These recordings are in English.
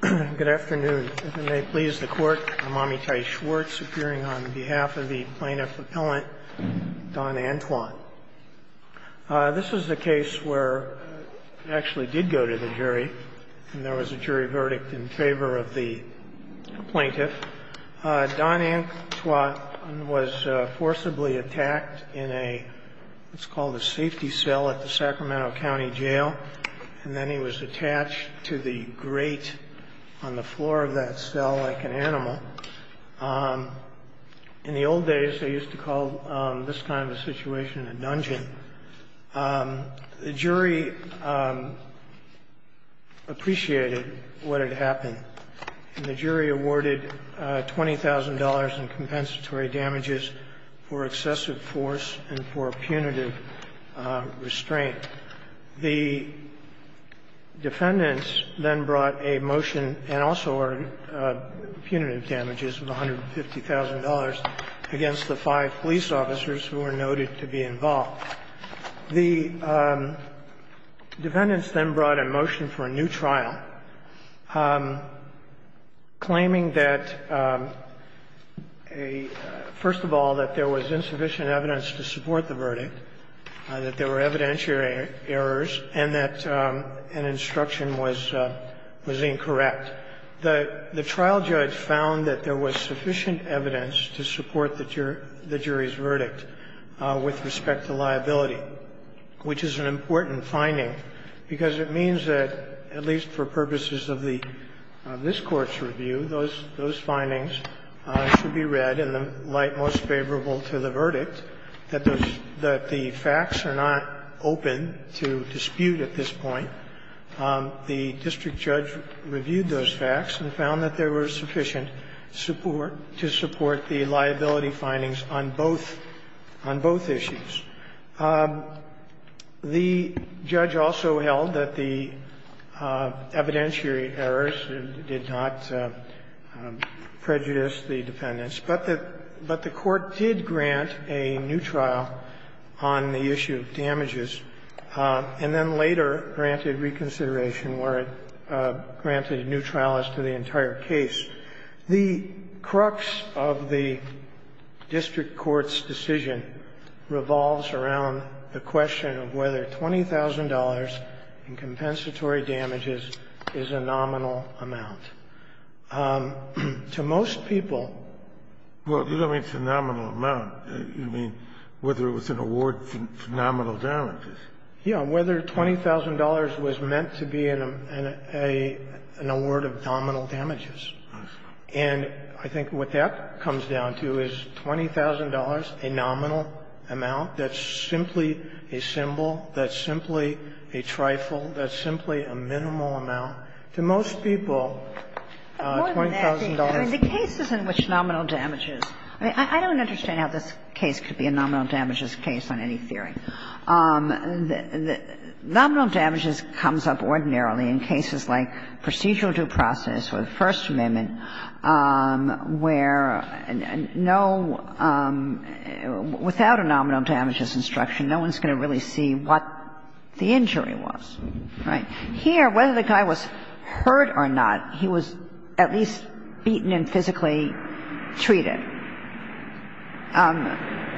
Good afternoon. If it may please the Court, I'm Amitai Schwartz, appearing on behalf of the Plaintiff Appellant Don Antoine. This is the case where I actually did go to the jury, and there was a jury verdict in favor of the plaintiff. Don Antoine was forcibly attacked in what's called a safety cell at the Sacramento County Jail, and then he was attached to the grate on the floor of that cell like an animal. In the old days, they used to call this kind of a situation a dungeon. The jury appreciated what had happened, and the jury awarded $20,000 in compensatory damages for excessive force and for punitive restraint. The defendants then brought a motion and also ordered punitive damages of $150,000 against the five police officers who were noted to be involved. The defendants then brought a motion for a new trial claiming that a — first of all, that there was insufficient evidence to support the verdict, that there were evidentiary errors, and that an instruction was incorrect. The trial judge found that there was sufficient evidence to support the jury's verdict with respect to liability, which is an important finding, because it means that, at least for purposes of the — of this Court's review, those findings should be read in the light most favorable to the verdict, that the facts are not open to dispute at this point. The district judge reviewed those facts and found that there was sufficient support to support the liability findings on both — on both issues. The judge also held that the evidentiary errors did not prejudice the defendants, but the — but the Court did grant a new trial on the issue of damages, and then later granted reconsideration where it granted a new trial as to the entire case. The crux of the district court's decision revolves around the question of whether $20,000 in compensatory damages is a nominal amount. To most people — Well, you don't mean it's a nominal amount. You mean whether it was an award for nominal damages. Yeah, whether $20,000 was meant to be an — an award of nominal damages. And I think what that comes down to is $20,000, a nominal amount, that's simply a symbol, that's simply a trifle, that's simply a minimal amount. To most people, $20,000 — But more than that, I mean, the cases in which nominal damages — I mean, I don't understand how this case could be a nominal damages case on any theory. Nominal damages comes up ordinarily in cases like procedural due process where there's a first amendment, where no — without a nominal damages instruction, no one's going to really see what the injury was. Right? Here, whether the guy was hurt or not, he was at least beaten and physically treated.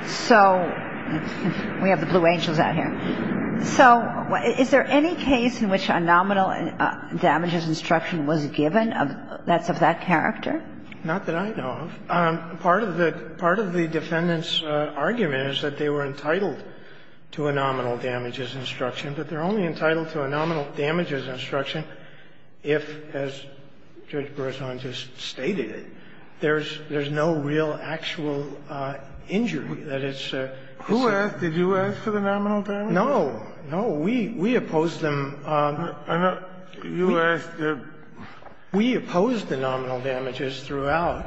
So we have the blue angels out here. So is there any case in which a nominal damages instruction was given that's of that character? Not that I know of. Part of the — part of the defendant's argument is that they were entitled to a nominal damages instruction, but they're only entitled to a nominal damages instruction if, as Judge Berzon just stated it, there's — there's no real actual injury that it's a — Who asked — did you ask for the nominal damages? No. No, we opposed them. We opposed the nominal damages throughout.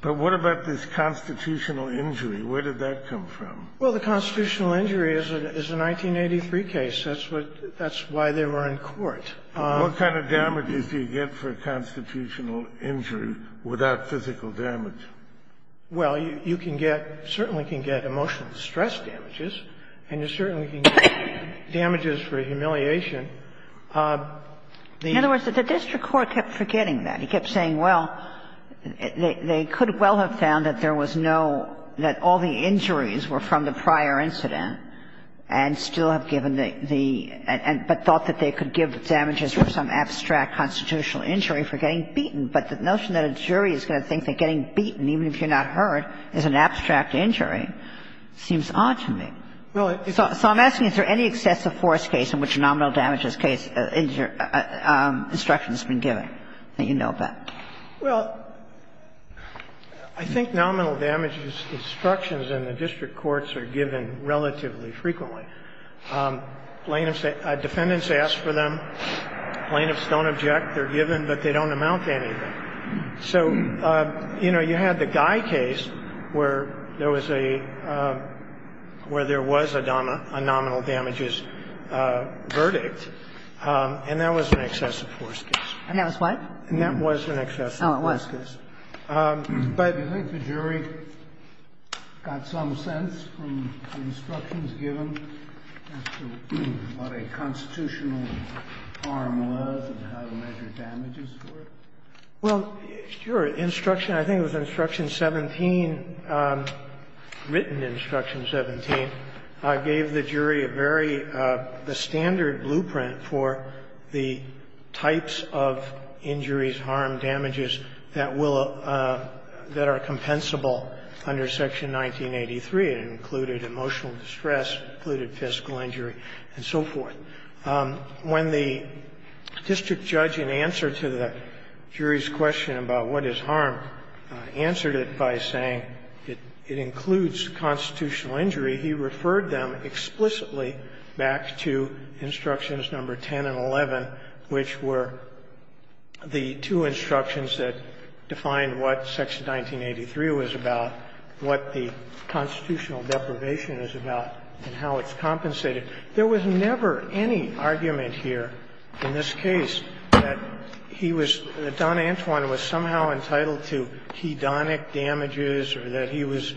But what about this constitutional injury? Where did that come from? Well, the constitutional injury is a 1983 case. That's what — that's why they were in court. What kind of damages do you get for constitutional injury without physical damage? Well, you can get — certainly can get emotional stress damages, and you certainly can get damages for humiliation. In other words, the district court kept forgetting that. He kept saying, well, they could well have found that there was no — that all the injuries were from the prior incident and still have given the — but thought that they could give damages for some abstract constitutional injury for getting beaten, even if you're not hurt, as an abstract injury. It seems odd to me. So I'm asking, is there any excessive force case in which a nominal damages case — injury instruction has been given that you know of that? Well, I think nominal damages instructions in the district courts are given relatively frequently. Plaintiffs — defendants ask for them. Plaintiffs don't object. They're given, but they don't amount to anything. So, you know, you had the Guy case where there was a — where there was a nominal damages verdict, and that was an excessive force case. And that was what? And that was an excessive force case. Oh, it was. But do you think the jury got some sense from the instructions given as to what a constitutional harm was and how to measure damages for it? Well, sure. Instruction — I think it was Instruction 17, written Instruction 17, gave the jury a very — the standard blueprint for the types of injuries, harm, damages that will — that are compensable under Section 1983. It included emotional distress, it included physical injury, and so forth. When the district judge, in answer to the jury's question about what is harm, answered it by saying it includes constitutional injury, he referred them explicitly back to Instructions No. 10 and 11, which were the two instructions that defined what Section 1983 was about, what the constitutional deprivation is about, and how it's compensated. There was never any argument here in this case that he was — that Don Antwine was somehow entitled to hedonic damages or that he was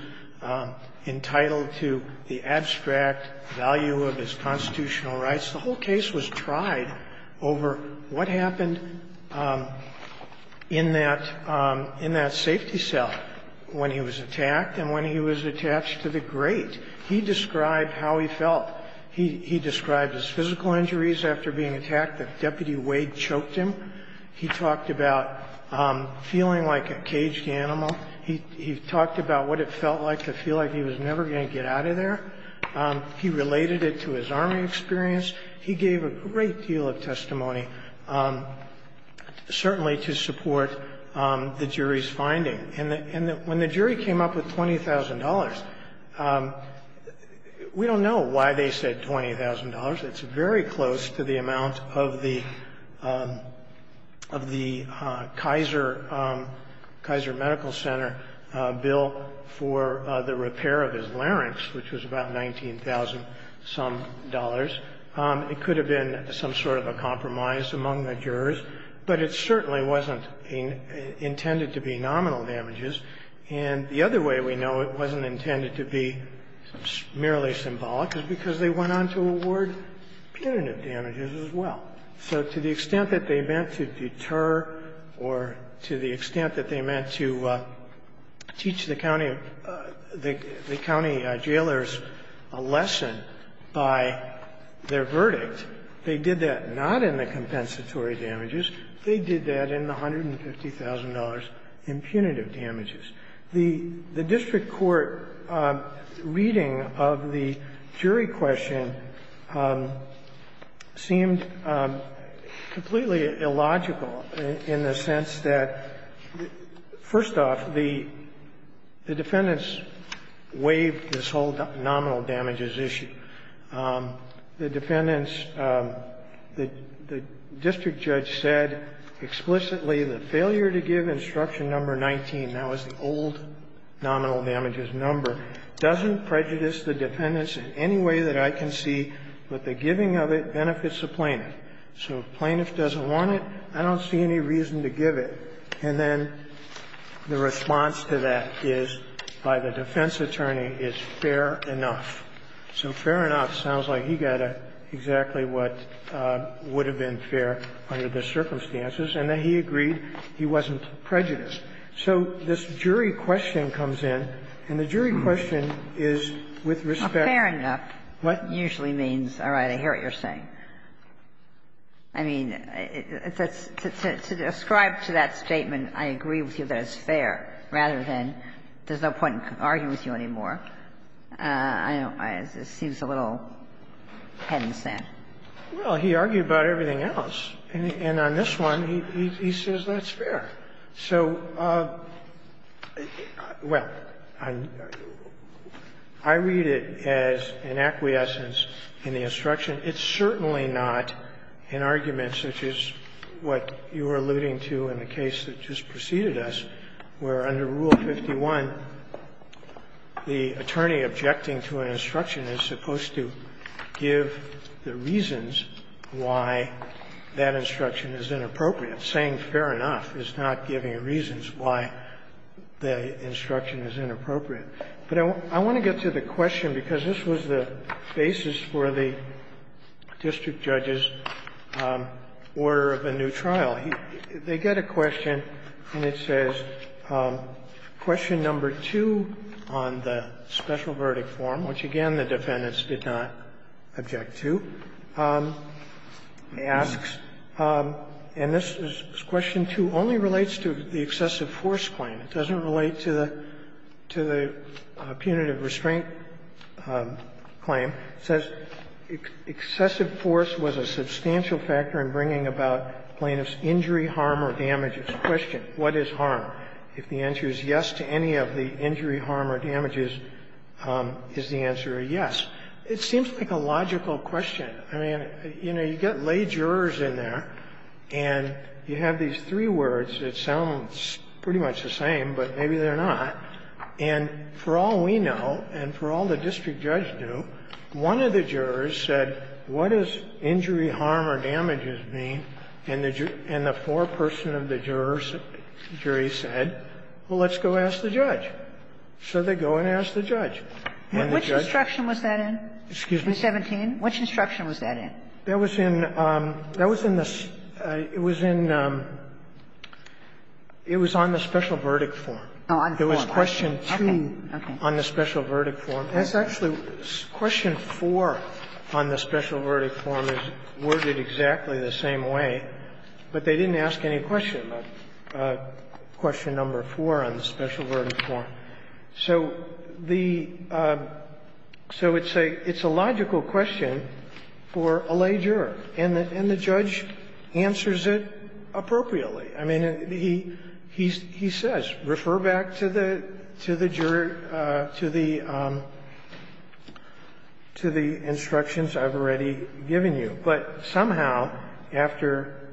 entitled to the abstract value of his constitutional rights. The whole case was tried over what happened in that — in that safety cell when he was attacked and when he was attached to the grate. He described how he felt. He described his physical injuries after being attacked. Deputy Wade choked him. He talked about feeling like a caged animal. He talked about what it felt like to feel like he was never going to get out of there. He related it to his Army experience. He gave a great deal of testimony, certainly to support the jury's finding. And when the jury came up with $20,000, we don't know why they said $20,000. It's very close to the amount of the — of the Kaiser — Kaiser Medical Center bill for the repair of his larynx, which was about $19,000-some. It could have been some sort of a compromise among the jurors, but it certainly wasn't intended to be nominal damages. And the other way we know it wasn't intended to be merely symbolic is because they went on to award punitive damages as well. So to the extent that they meant to deter or to the extent that they meant to teach the county of — the county jailors a lesson by their verdict, they did that not in the compensatory damages. They did that in the $150,000 in punitive damages. The district court reading of the jury question seemed completely illogical in the sense that, first off, the defendants waived this whole nominal damages issue. The defendants — the district judge said explicitly the failure to give instruction number 19, that was the old nominal damages number, doesn't prejudice the defendants in any way that I can see, but the giving of it benefits the plaintiff. So if plaintiff doesn't want it, I don't see any reason to give it. And then the response to that is, by the defense attorney, is fair enough. So fair enough sounds like he got exactly what would have been fair under the circumstances, and that he agreed he wasn't prejudiced. So this jury question comes in, and the jury question is, with respect to the plaintiff's verdict. Fair enough usually means, all right, I hear what you're saying. I mean, to ascribe to that statement, I agree with you that it's fair, rather than there's no point in arguing with you anymore. I don't — it seems a little head in the sand. Well, he argued about everything else. And on this one, he says that's fair. So, well, I read it as an acquiescence in the instruction. It's certainly not an argument such as what you were alluding to in the case that just preceded us, where under Rule 51, the attorney objecting to an instruction is supposed to give the reasons why that instruction is inappropriate. Saying fair enough is not giving reasons why the instruction is inappropriate. But I want to get to the question, because this was the basis for the district judge's order of a new trial. They get a question, and it says, Question No. 2 on the special verdict form, which, again, the defendants did not object to, asks, and this is Question 2, only relates to the excessive force claim. It doesn't relate to the punitive restraint claim. It says excessive force was a substantial factor in bringing about plaintiff's injury, harm or damage. It's a question, what is harm? If the answer is yes to any of the injury, harm or damages, is the answer a yes? It seems like a logical question. I mean, you know, you get lay jurors in there, and you have these three words. It sounds pretty much the same, but maybe they're not. And for all we know, and for all the district judge knew, one of the jurors said, What does injury, harm or damages mean? And the four person of the jury said, well, let's go ask the judge. So they go and ask the judge. Kagan. Kagan. And which instruction was that in? Excuse me? 217? Which instruction was that in? That was in the – it was in the special verdict form. Oh, on the form, okay. It was Question 2 on the special verdict form. That's actually – Question 4 on the special verdict form is worded exactly the same way, but they didn't ask any question about Question Number 4 on the special verdict form. So the – so it's a logical question for a lay juror, and the judge answers it appropriately. I mean, he says, refer back to the jury, to the instructions I've already given you. But somehow, after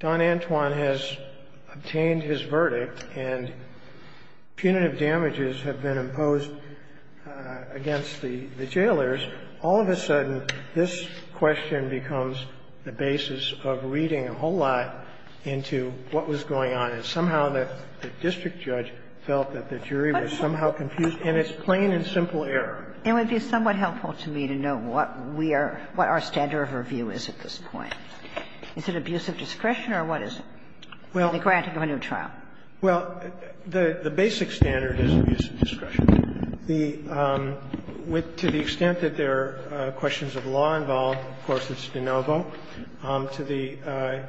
Don Antwon has obtained his verdict and punitive damages have been imposed against the jailers, all of a sudden this question becomes the basis of reading a whole lot into what was going on. And somehow the district judge felt that the jury was somehow confused. And it's plain and simple error. And it would be somewhat helpful to me to know what we are – what our standard of review is at this point. Is it abuse of discretion or what is it? Well, the granting of a new trial. Well, the basic standard is abuse of discretion. The – to the extent that there are questions of law involved, of course, it's de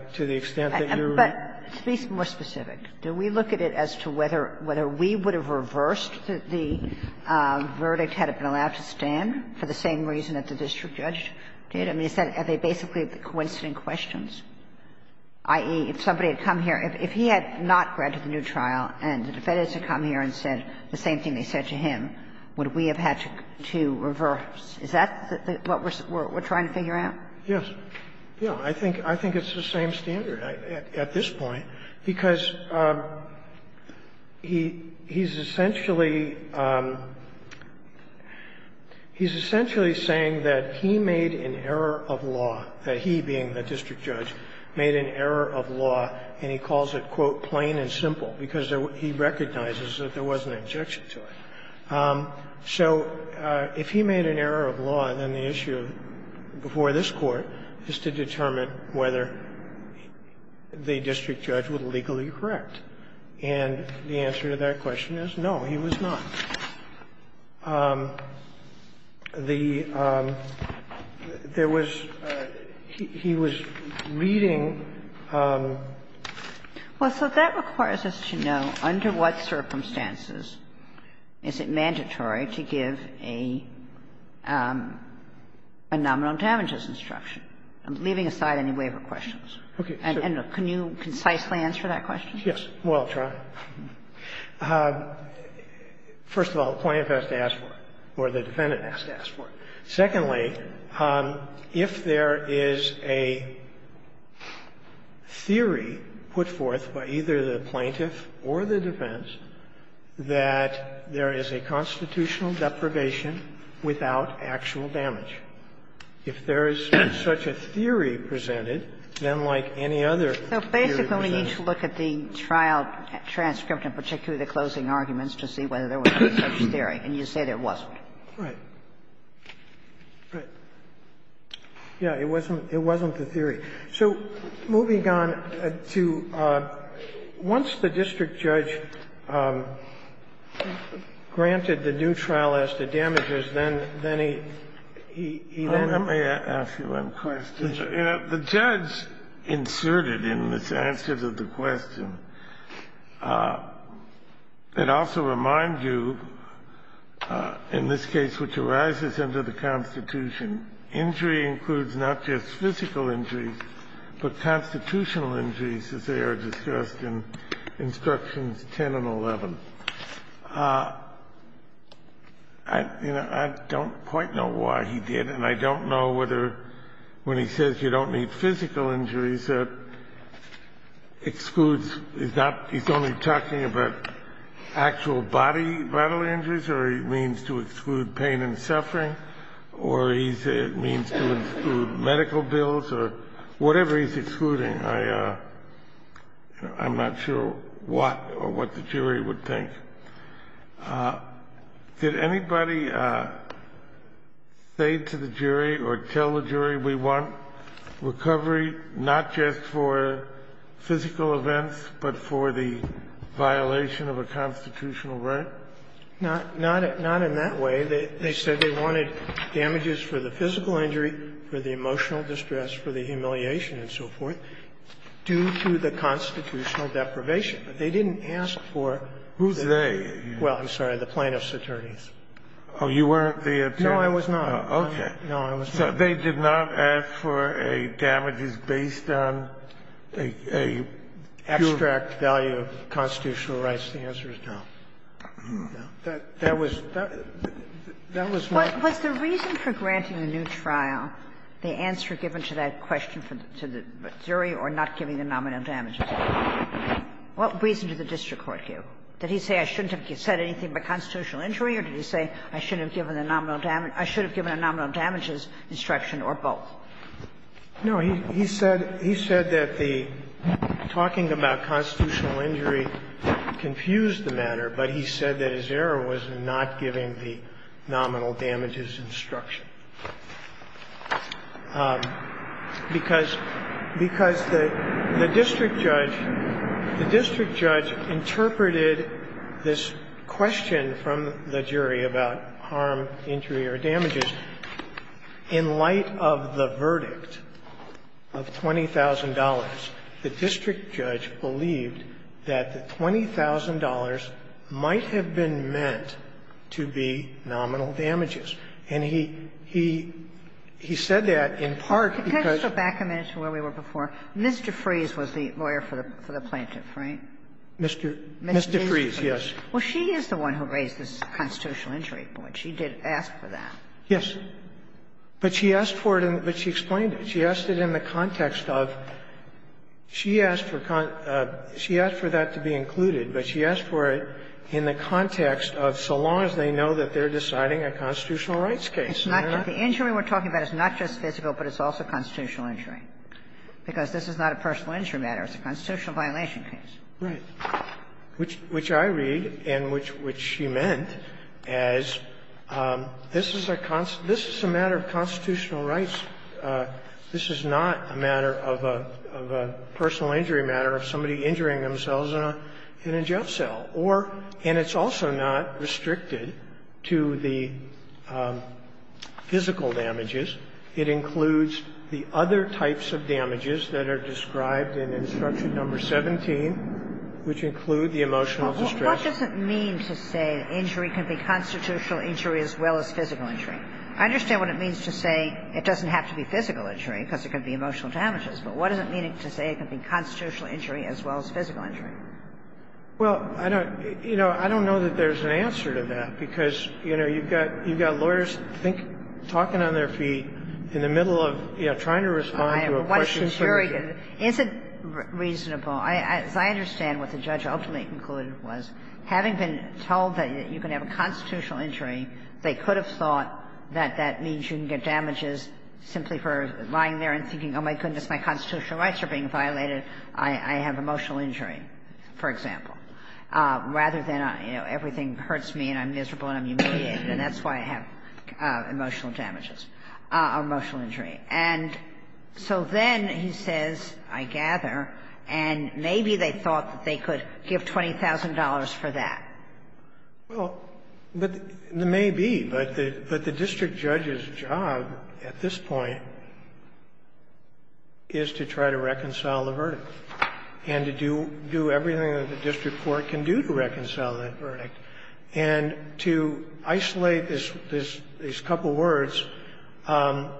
– to the extent that you're – But to be more specific, do we look at it as to whether – whether we would have reversed the verdict, had it been allowed to stand, for the same reason that the district judge did? I mean, is that – are they basically coincident questions? I.e., if somebody had come here – if he had not granted the new trial and the defendants had come here and said the same thing they said to him, would we have had to reverse? Is that what we're trying to figure out? Yes. Yeah. I think – I think it's the same standard at this point, because he – he's essentially – he's essentially saying that he made an error of law, that he, being the district judge, made an error of law, and he calls it, quote, plain and simple, because he recognizes that there was an injunction to it. So if he made an error of law, then the issue before this Court is to determine whether the district judge was legally correct. And the answer to that question is no, he was not. The – there was – he was reading – Well, so that requires us to know under what circumstances. Is it mandatory to give a nominal damages instruction? I'm leaving aside any waiver questions. Okay. And can you concisely answer that question? Yes. Well, I'll try. First of all, the plaintiff has to ask for it, or the defendant has to ask for it. Secondly, if there is a theory put forth by either the plaintiff or the defendants that there is a constitutional deprivation without actual damage, if there is such a theory presented, then like any other theory presented. So basically, we need to look at the trial transcript, and particularly the closing arguments, to see whether there was any such theory. And you said there wasn't. Right. Right. Yes, it wasn't the theory. So moving on to – once the district judge granted the new trial as to damages, then he – he then – Let me ask you one question. The judge inserted in this answer to the question, it also reminds you, in this case which arises under the Constitution, injury includes not just physical injuries, but constitutional injuries, as they are discussed in Instructions 10 and 11. I don't quite know why he did, and I don't know whether, when he says you don't need physical injuries, that excludes – he's not – he's only talking about actual body vital injuries, or he means to exclude pain and suffering, or he means to exclude medical bills, or whatever he's excluding. I'm not sure what – or what the jury would think. Did anybody say to the jury or tell the jury, we want recovery not just for physical events, but for the violation of a constitutional right? Not in that way. They said they wanted damages for the physical injury, for the emotional distress, for the humiliation and so forth, due to the constitutional deprivation. But they didn't ask for the – Who's they? Well, I'm sorry, the plaintiff's attorneys. Oh, you weren't the plaintiff's attorneys? No, I was not. Okay. No, I was not. So they did not ask for a damages based on a – a – Extract value of constitutional rights. The answer is no. That was – that was my question. Was the reason for granting a new trial the answer given to that question to the jury or not giving the nominal damages? What reason did the district court give? Did he say I shouldn't have said anything about constitutional injury, or did he say I shouldn't have given the nominal damage – I should have given a nominal damages instruction or both? No. He said – he said that the talking about constitutional injury confused the matter, but he said that his error was in not giving the nominal damages instruction. Because – because the district judge – the district judge interpreted this question from the jury about harm, injury or damages in light of the verdict. And he said that in part because the district judge believed that the $20,000 might have been meant to be nominal damages. And he – he said that in part because – Could I just go back a minute to where we were before? Ms. DeFries was the lawyer for the plaintiff, right? Ms. DeFries, yes. Well, she is the one who raised this constitutional injury point. She did ask for that. Yes. But she asked for it in – but she explained it. She asked it in the context of – she asked for – she asked for that to be included, but she asked for it in the context of so long as they know that they're deciding a constitutional rights case. It's not just – the injury we're talking about is not just physical, but it's also constitutional injury. Because this is not a personal injury matter. It's a constitutional violation case. Right. Which I read and which she meant as this is a – this is a matter of constitutional rights. This is not a matter of a personal injury matter of somebody injuring themselves in a jail cell. Or – and it's also not restricted to the physical damages. It includes the other types of damages that are described in Instruction No. 17, which include the emotional distress. What does it mean to say injury can be constitutional injury as well as physical injury? I understand what it means to say it doesn't have to be physical injury because it can be emotional damages. But what does it mean to say it can be constitutional injury as well as physical injury? Well, I don't – you know, I don't know that there's an answer to that, because, you know, you've got – you've got lawyers think – talking on their feet in the middle of, you know, trying to respond to a question. It's very good. Is it reasonable – as I understand what the judge ultimately concluded was, having been told that you can have a constitutional injury, they could have thought that that means you can get damages simply for lying there and thinking, oh, my goodness, my constitutional rights are being violated, I have emotional injury, for example, rather than, you know, everything hurts me and I'm miserable and I'm humiliated, and that's why I have emotional damages or emotional injury. And so then he says, I gather, and maybe they thought that they could give $20,000 for that. Well, but there may be, but the district judge's job at this point is to try to reconcile the verdict and to do everything that the district court can do to reconcile that verdict. And to isolate this – these couple words and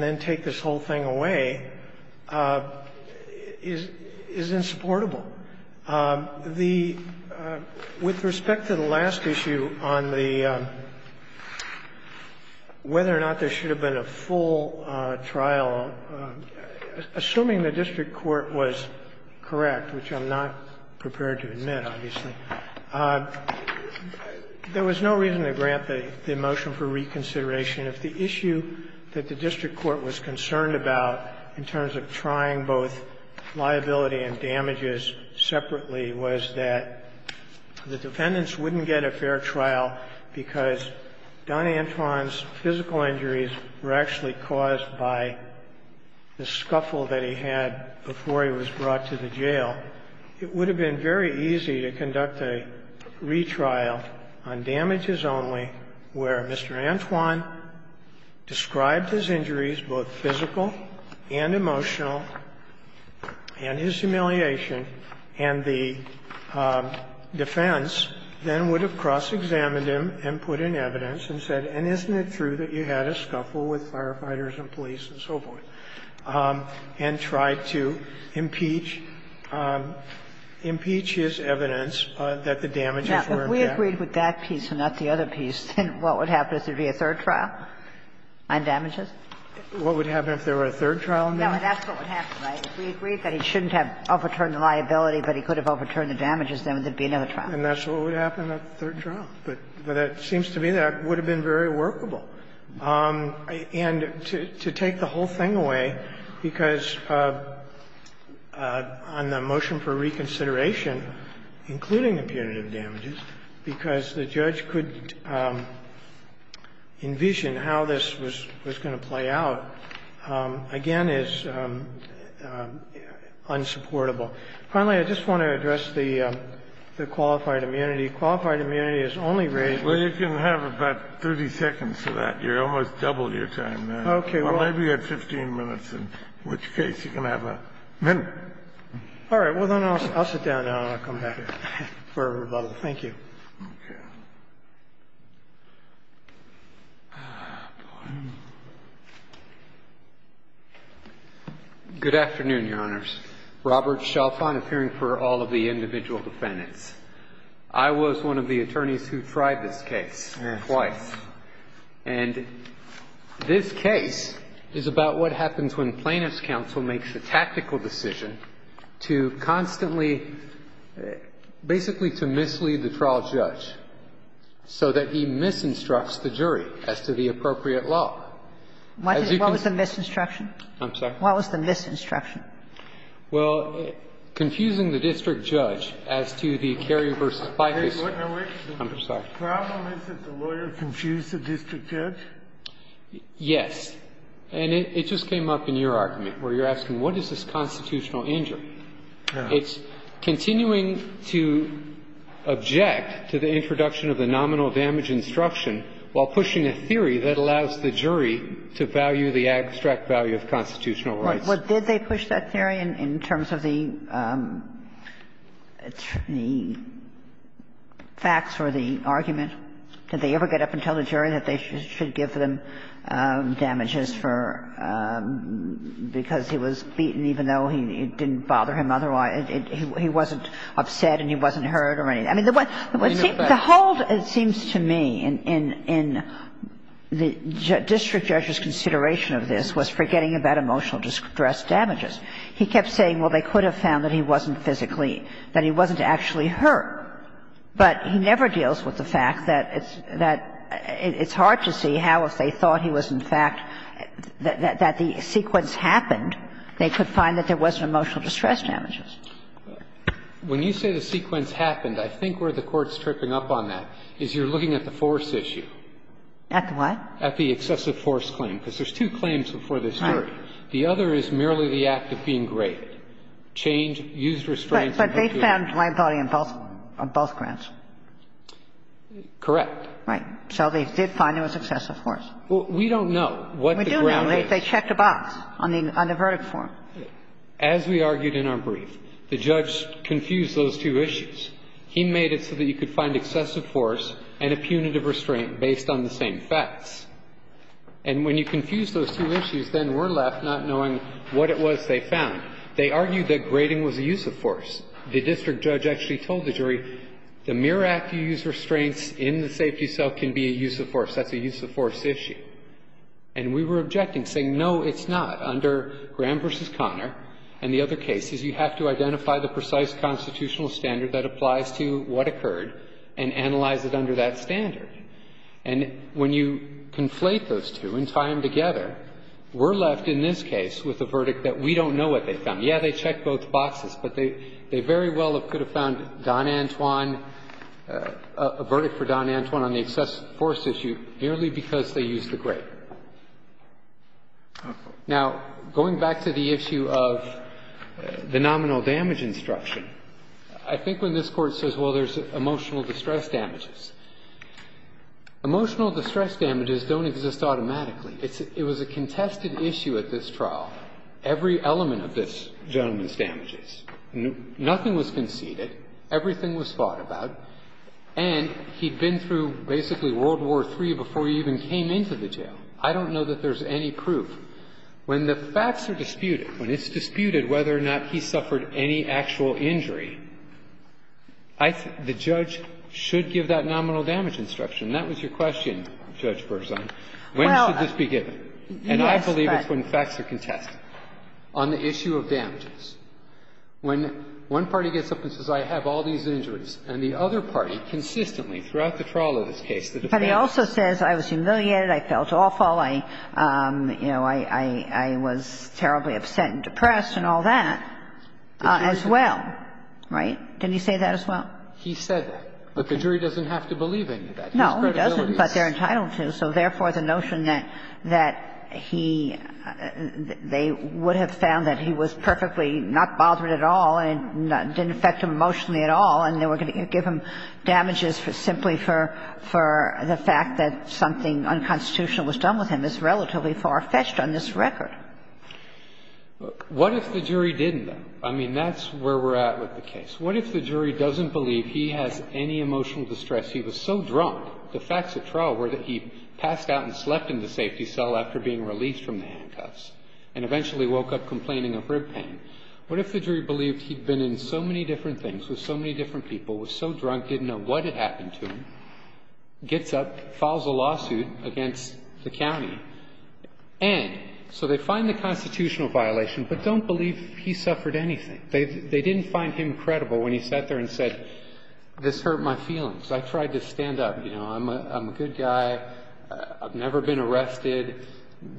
then take this whole thing away is insupportable. The – with respect to the last issue on the – whether or not there should have been a full trial, assuming the district court was correct, which I'm not prepared to admit, obviously, there was no reason to grant the motion for reconsideration. If the issue that the district court was concerned about in terms of trying both liability and damages separately was that the defendants wouldn't get a fair trial because Don Antron's physical injuries were actually caused by the scuffle that he had before he was brought to the jail, it would have been very easy for the district court to say, well, it's very easy to conduct a retrial on damages only where Mr. Antron described his injuries, both physical and emotional, and his humiliation, and the defense then would have cross-examined him and put in evidence and said, and isn't it true that you had a scuffle with firefighters and police and so forth, and tried to impeach his evidence that the damages were in fact the same? Now, if we agreed with that piece and not the other piece, then what would happen if there would be a third trial on damages? What would happen if there were a third trial on damages? No, that's what would happen, right? If we agreed that he shouldn't have overturned the liability, but he could have overturned the damages, then there would be another trial. And that's what would happen at the third trial. But it seems to me that would have been very workable. And to take the whole thing away, because on the motion for reconsideration, including the punitive damages, because the judge could envision how this was going to play out, again, is unsupportable. Finally, I just want to address the qualified immunity. Qualified immunity is only raised when you can have about 30 seconds to that. You're almost double your time now. Okay. Well, maybe you had 15 minutes, in which case you can have a minute. All right. Well, then I'll sit down, and I'll come back for rebuttal. Thank you. Okay. Good afternoon, Your Honors. Robert Chalfant of hearing for all of the individual defendants. I was one of the attorneys who tried this case twice. And this case is about what happens when Plaintiff's counsel makes a tactical decision to constantly, basically to mislead the trial judge so that he misinstructs the jury as to the appropriate law. What was the misinstruction? I'm sorry. What was the misinstruction? Well, confusing the district judge as to the Kerry v. Fife case. I'm sorry. The problem is that the lawyer confused the district judge? Yes. And it just came up in your argument, where you're asking what is this constitutional injury. It's continuing to object to the introduction of the nominal damage instruction while pushing a theory that allows the jury to value the abstract value of constitutional rights. Well, did they push that theory in terms of the facts or the argument? Did they ever get up and tell the jury that they should give them damages for – because he was beaten, even though it didn't bother him otherwise? He wasn't upset and he wasn't hurt or anything. I mean, the hold, it seems to me, in the district judge's consideration of this was forgetting about emotional distress damages. He kept saying, well, they could have found that he wasn't physically – that he wasn't actually hurt. But he never deals with the fact that it's hard to see how, if they thought he was in fact – that the sequence happened, they could find that there wasn't emotional distress damages. When you say the sequence happened, I think where the Court's tripping up on that is you're looking at the force issue. At the what? At the excessive force claim, because there's two claims before this jury. Right. The other is merely the act of being great. Change, used restraints. But they found liability on both – on both grounds. Correct. Right. So they did find there was excessive force. Well, we don't know what the ground is. We do know they checked a box on the verdict form. As we argued in our brief, the judge confused those two issues. He made it so that you could find excessive force and a punitive restraint based on the same facts. And when you confuse those two issues, then we're left not knowing what it was they found. They argued that grading was a use of force. The district judge actually told the jury, the mere act you use restraints in the safety cell can be a use of force. That's a use of force issue. And we were objecting, saying, no, it's not. Under Graham v. Connor and the other cases, you have to identify the precise constitutional standard that applies to what occurred and analyze it under that standard. And when you conflate those two and tie them together, we're left in this case with a verdict that we don't know what they found. Yes, they checked both boxes, but they very well could have found Don Antwon – a verdict for Don Antwon on the excessive force issue merely because they used the grade. Now, going back to the issue of the nominal damage instruction, I think when this Emotional distress damages don't exist automatically. It's – it was a contested issue at this trial. Every element of this gentleman's damages, nothing was conceded. Everything was thought about. And he'd been through basically World War III before he even came into the jail. I don't know that there's any proof. When the facts are disputed, when it's disputed whether or not he suffered any actual injury, I think the judge should give that nominal damage instruction. And that was your question, Judge Berzon. When should this be given? And I believe it's when facts are contested. On the issue of damages, when one party gets up and says, I have all these injuries, and the other party consistently throughout the trial of this case, the defense says – But he also says, I was humiliated, I felt awful, I, you know, I was terribly upset and depressed and all that as well, right? Didn't he say that as well? He said that, but the jury doesn't have to believe any of that. No, he doesn't, but they're entitled to. So, therefore, the notion that he – they would have found that he was perfectly not bothered at all and didn't affect him emotionally at all, and they were going to give him damages simply for the fact that something unconstitutional was done with him is relatively far-fetched on this record. Now, what if the jury didn't, though? I mean, that's where we're at with the case. What if the jury doesn't believe he has any emotional distress? He was so drunk – the facts of trial were that he passed out and slept in the safety cell after being released from the handcuffs, and eventually woke up complaining of rib pain. What if the jury believed he'd been in so many different things with so many different people, was so drunk, didn't know what had happened to him, gets up, files a lawsuit against the county, and so they find the constitutional violation, but don't believe he suffered anything. They didn't find him credible when he sat there and said, this hurt my feelings. I tried to stand up, you know, I'm a good guy, I've never been arrested,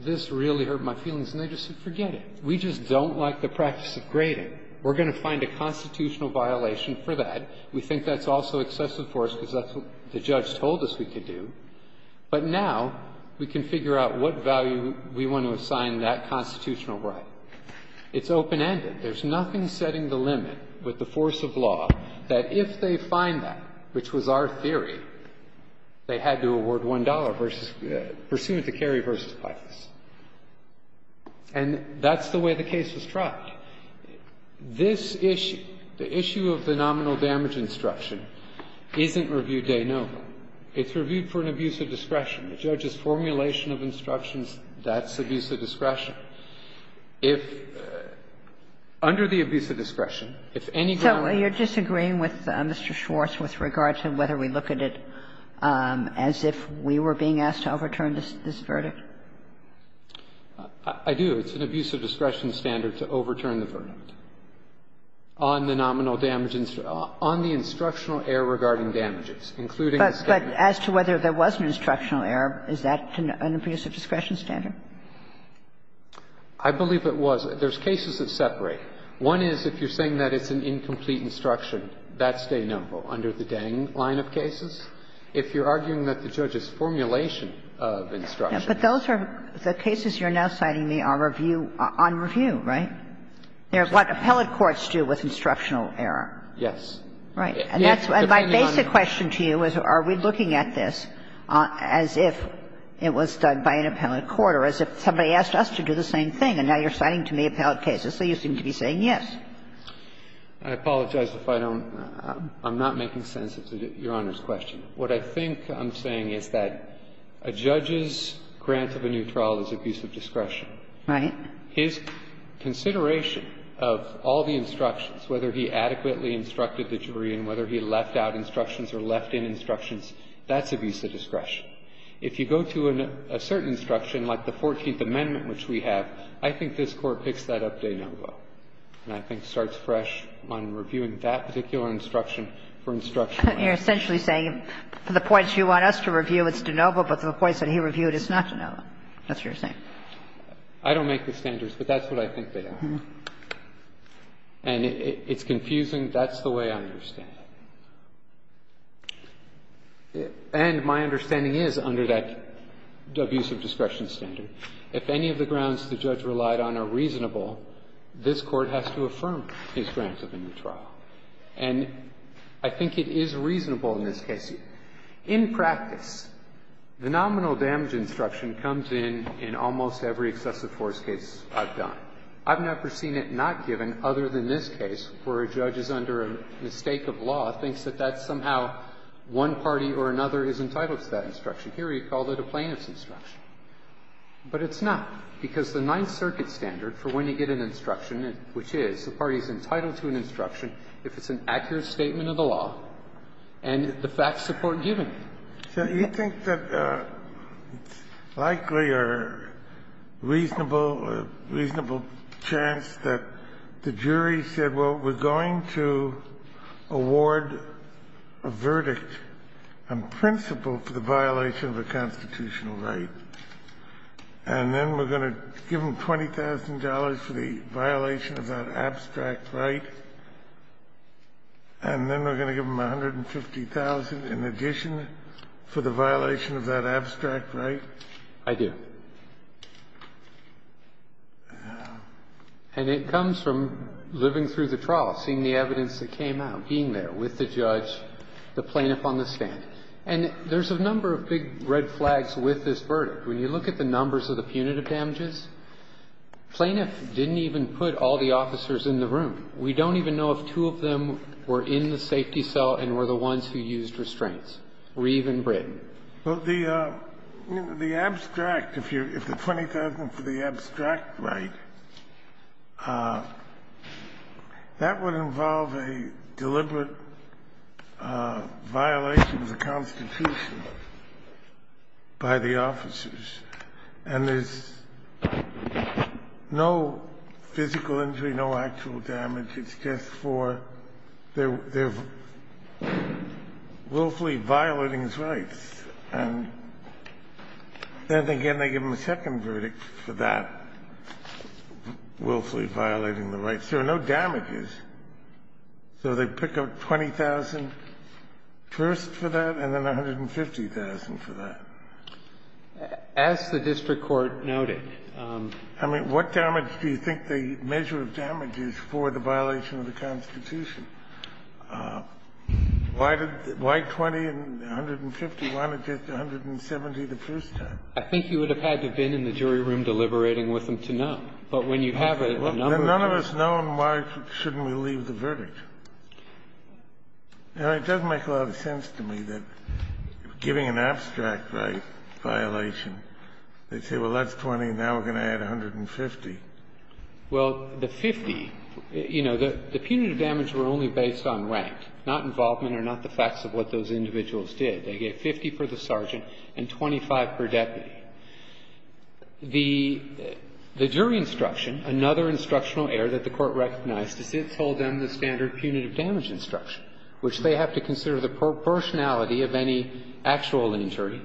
this really hurt my feelings, and they just said, forget it. We just don't like the practice of grading. We're going to find a constitutional violation for that. We think that's also excessive for us because that's what the judge told us we could do. But now we can figure out what value we want to assign that constitutional right. It's open-ended. There's nothing setting the limit with the force of law that if they find that, which was our theory, they had to award $1 versus – pursuant to Kerry v. Pythas. And that's the way the case was tried. This issue, the issue of the nominal damage instruction, isn't reviewed day and night. It's reviewed for an abuse of discretion. The judge's formulation of instructions, that's abuse of discretion. If – under the abuse of discretion, if any group of people were to say, well, you're disagreeing with Mr. Schwartz with regard to whether we look at it as if we were being asked to overturn this verdict? I do. It's an abuse of discretion standard to overturn the verdict on the nominal damage instruction – on the instructional error regarding damages, including the statement. But as to whether there was an instructional error, is that an abuse of discretion standard? I believe it was. There's cases that separate. One is if you're saying that it's an incomplete instruction, that's denumbered under the Dang line of cases. If you're arguing that the judge's formulation of instruction – But those are – the cases you're now citing me are review – on review, right? They're what appellate courts do with instructional error. Yes. Right. And that's – and my basic question to you is, are we looking at this as if it was done by an appellate court or as if somebody asked us to do the same thing, and now you're citing to me appellate cases, so you seem to be saying yes? I apologize if I don't – I'm not making sense of Your Honor's question. What I think I'm saying is that a judge's grant of a new trial is abuse of discretion. Right. His consideration of all the instructions, whether he adequately instructed the jury and whether he left out instructions or left in instructions, that's abuse of discretion. If you go to a certain instruction, like the Fourteenth Amendment, which we have, I think this Court picks that up de novo, and I think starts fresh on reviewing that particular instruction for instructional error. You're essentially saying the points you want us to review, it's de novo, but the points that he reviewed, it's not de novo. That's what you're saying. I don't make the standards, but that's what I think they are. And it's confusing. That's the way I understand it. And my understanding is, under that abuse of discretion standard, if any of the grounds the judge relied on are reasonable, this Court has to affirm his grant of a new trial. And I think it is reasonable in this case. In practice, the nominal damage instruction comes in in almost every excessive force case I've done. I've never seen it not given, other than this case, where a judge is under a mistake of law, thinks that that's somehow one party or another is entitled to that instruction. Here he called it a plaintiff's instruction. But it's not, because the Ninth Circuit standard for when you get an instruction, which is the party is entitled to an instruction if it's an accurate statement of the law, and the facts support giving it. Kennedy. You think that it's likely a reasonable chance that the jury said, well, we're going to award a verdict on principle for the violation of a constitutional right, and then we're going to give them $20,000 for the violation of that abstract right, and then we're going to give them $150,000 in addition for the violation of that abstract right? I do. And it comes from living through the trial, seeing the evidence that came out, being there with the judge, the plaintiff on the stand. And there's a number of big red flags with this verdict. When you look at the numbers of the punitive damages, plaintiff didn't even put all the officers in the room. We don't even know if two of them were in the safety cell and were the ones who used restraints, Reeve and Britton. Well, the abstract, if the 20,000 for the abstract right, that would involve a deliberate violation of the Constitution by the officers. And there's no physical injury, no actual damage. It's just for their willfully violating his rights. And then again, they give them a second verdict for that willfully violating the rights. There are no damages. So they pick up 20,000 first for that and then 150,000 for that. As the district court noted – I mean, what damage do you think the measure of damage is for the violation of the Constitution? Why did the – why 20 and 150, why not just 170 the first time? I think you would have had to have been in the jury room deliberating with them to know. But when you have a number of them – Well, then none of us know, and why shouldn't we leave the verdict? Now, it doesn't make a lot of sense to me that giving an abstract right violation, they say, well, that's 20, now we're going to add 150. Well, the 50, you know, the punitive damage were only based on rank, not involvement or not the facts of what those individuals did. They gave 50 for the sergeant and 25 per deputy. The jury instruction, another instructional error that the Court recognized is it told them the standard punitive damage instruction, which they have to consider the proportionality of any actual injury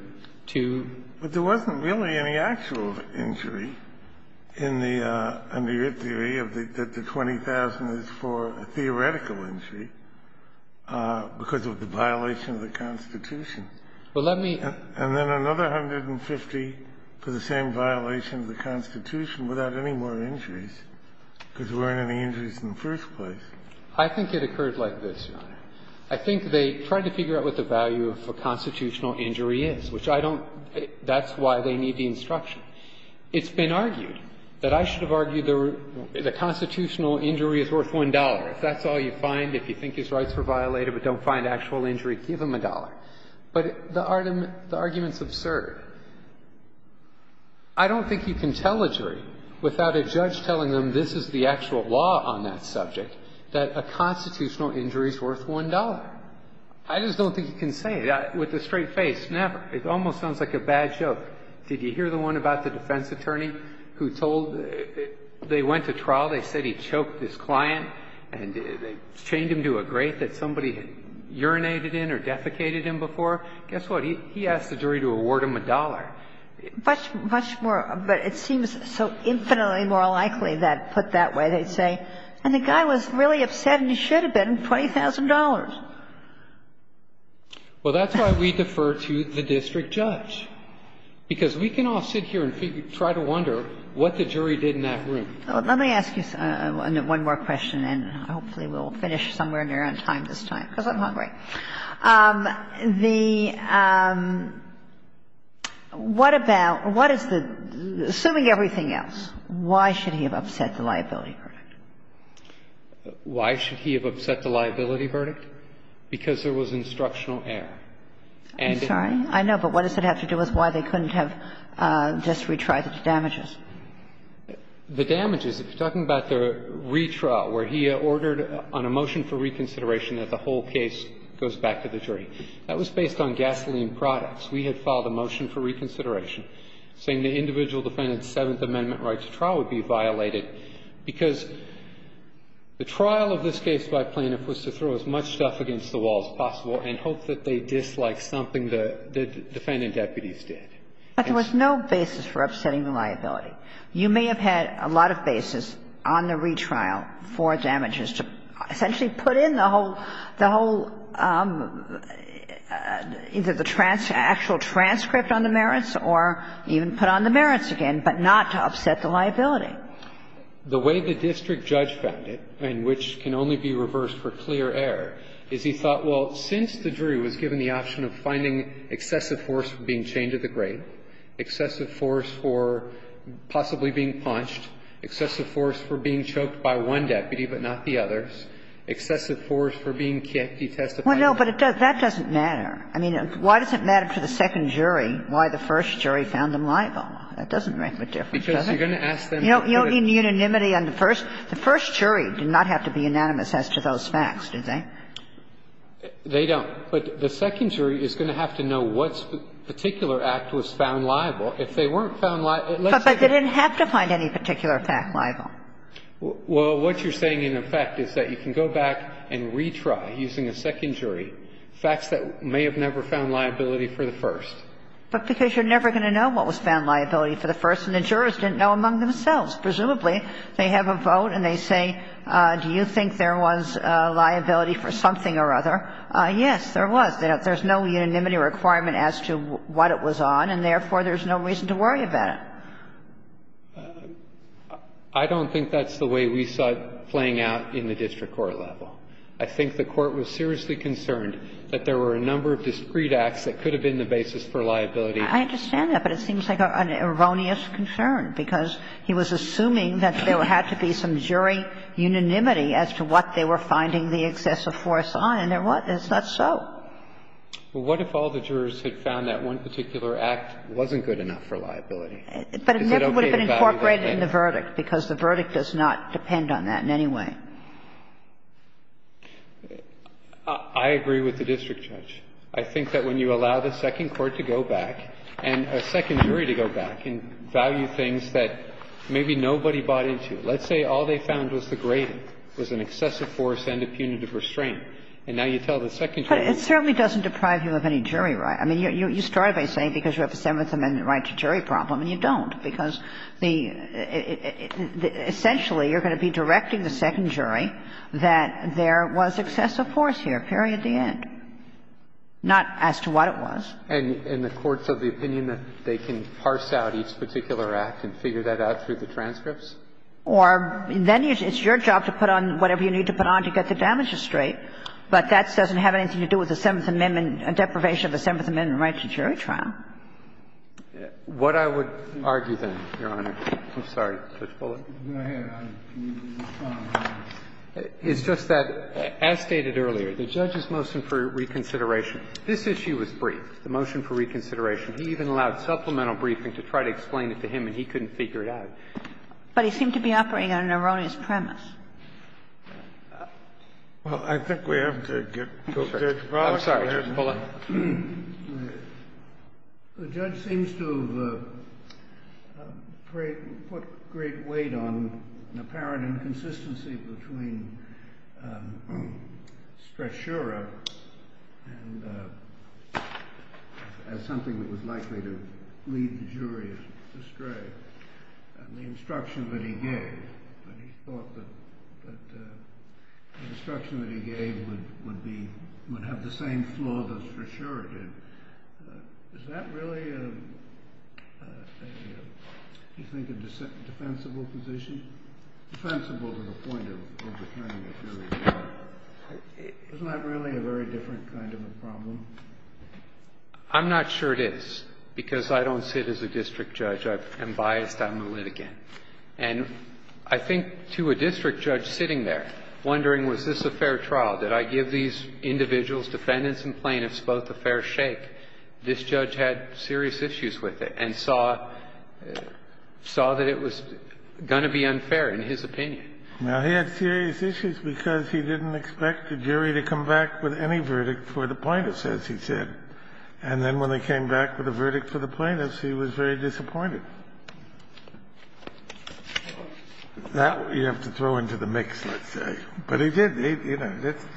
to – But there wasn't really any actual injury in the – under your theory that the 20,000 is for a theoretical injury because of the violation of the Constitution. Well, let me – And then another 150 for the same violation of the Constitution without any more injuries, because there weren't any injuries in the first place. I think it occurred like this, Your Honor. I think they tried to figure out what the value of a constitutional injury is, which I don't – that's why they need the instruction. It's been argued that I should have argued the constitutional injury is worth $1. If that's all you find, if you think his rights were violated but don't find actual injury, give him a dollar. But the argument's absurd. I don't think you can tell a jury without a judge telling them this is the actual law on that subject, that a constitutional injury is worth $1. I just don't think you can say that with a straight face, never. It almost sounds like a bad joke. Did you hear the one about the defense attorney who told – they went to trial, they said he choked this client and they chained him to a grate that somebody had urinated in or defecated in before? Guess what? He asked the jury to award him a dollar. Much more – but it seems so infinitely more likely that put that way, they'd say, and the guy was really upset and he should have been, $20,000. Well, that's why we defer to the district judge, because we can all sit here and try to wonder what the jury did in that room. Let me ask you one more question and hopefully we'll finish somewhere near on time this time, because I'm hungry. The – what about – what is the – assuming everything else, why should he have upset the liability verdict? Why should he have upset the liability verdict? Because there was instructional error. I'm sorry. I know, but what does it have to do with why they couldn't have just retried the damages? The damages, if you're talking about the retrial, where he ordered on a motion for reconsideration that the whole case goes back to the jury. That was based on gasoline products. We had filed a motion for reconsideration saying the individual defendant's Seventh Amendment right to trial would be violated, because the trial of this case by plaintiff was to throw as much stuff against the wall as possible and hope that they disliked something the defendant deputies did. But there was no basis for upsetting the liability. You may have had a lot of basis on the retrial for damages to essentially put in the whole – the whole – either the actual transcript on the merits or even put on the merits again, but not to upset the liability. The way the district judge found it, and which can only be reversed for clear error, is he thought, well, since the jury was given the option of finding excessive force for being chained to the grate, excessive force for possibly being punched, excessive force for being choked by one deputy but not the others, excessive force for being detested by the other. Well, no, but that doesn't matter. I mean, why does it matter to the second jury why the first jury found them liable? That doesn't make a difference, does it? Because you're going to ask them to do it. You know, in unanimity on the first, the first jury did not have to be unanimous as to those facts, did they? They don't. But the second jury is going to have to know what particular act was found liable. If they weren't found liable, let's say they're not. But they didn't have to find any particular fact liable. Well, what you're saying, in effect, is that you can go back and retry using a second jury facts that may have never found liability for the first. But because you're never going to know what was found liability for the first, and the jurors didn't know among themselves. Presumably, they have a vote and they say, do you think there was liability for something or other? Yes, there was. There's no unanimity requirement as to what it was on, and therefore, there's no reason to worry about it. I don't think that's the way we saw it playing out in the district court level. I think the Court was seriously concerned that there were a number of discrete acts that could have been the basis for liability. I understand that, but it seems like an erroneous concern, because he was assuming that there had to be some jury unanimity as to what they were finding the excessive force on, and there wasn't. It's not so. Well, what if all the jurors had found that one particular act wasn't good enough for liability? But it never would have been incorporated in the verdict, because the verdict does not depend on that in any way. I agree with the district judge. I think that when you allow the second court to go back and a second jury to go back and value things that maybe nobody bought into, let's say all they found was the gradient, was an excessive force and a punitive restraint, and now you tell the second jury. But it certainly doesn't deprive you of any jury right. I mean, you start by saying because you have a Seventh Amendment right to jury problem and you don't, because the – essentially, you're going to be directing the second jury that there was excessive force here, period, the end, not as to what it was. And the courts have the opinion that they can parse out each particular act and figure that out through the transcripts? Or then it's your job to put on whatever you need to put on to get the damages straight, but that doesn't have anything to do with the Seventh Amendment deprivation of the Seventh Amendment right to jury trial. What I would argue, then, Your Honor – I'm sorry, Judge Bullock. Go ahead, Your Honor. It's just that, as stated earlier, the judge's motion for reconsideration, this issue was briefed, the motion for reconsideration. He even allowed supplemental briefing to try to explain it to him, and he couldn't figure it out. But he seemed to be operating on an erroneous premise. Well, I think we have to get to Judge Bullock. I'm sorry, Judge Bullock. The judge seems to have put great weight on an apparent inconsistency between Strasura as something that was likely to lead the jury astray, and the instruction that he gave, that he thought that the instruction that he gave would have the same flaw that Strasura did. Is that really, do you think, a defensible position? Defensible to the point of overturning a jury trial. Isn't that really a very different kind of a problem? I'm not sure it is, because I don't sit as a district judge. I am biased. I'm a litigant. And I think to a district judge sitting there, wondering, was this a fair trial? Did I give these individuals, defendants and plaintiffs, both a fair shake? This judge had serious issues with it and saw that it was going to be unfair, in his opinion. Now, he had serious issues because he didn't expect the jury to come back with any verdict for the plaintiffs, as he said. And then when they came back with a verdict for the plaintiffs, he was very disappointed. That you have to throw into the mix, let's say. But he did.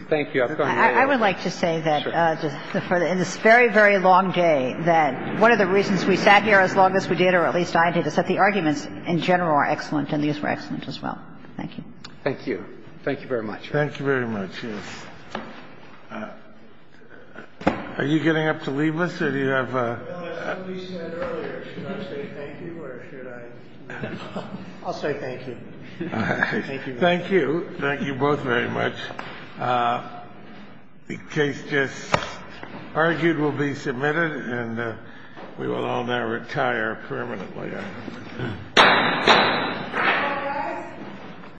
Thank you. I would like to say that, in this very, very long day, that one of the reasons we sat here as long as we did, or at least I did, is that the arguments in general are excellent and these were excellent as well. Thank you. Thank you. Thank you very much. Thank you very much. Yes. Are you getting up to leave us or do you have a ---- No, as somebody said earlier, should I say thank you or should I? I'll say thank you. Thank you. Thank you. Thank you both very much. The case just argued will be submitted and we will all now retire permanently.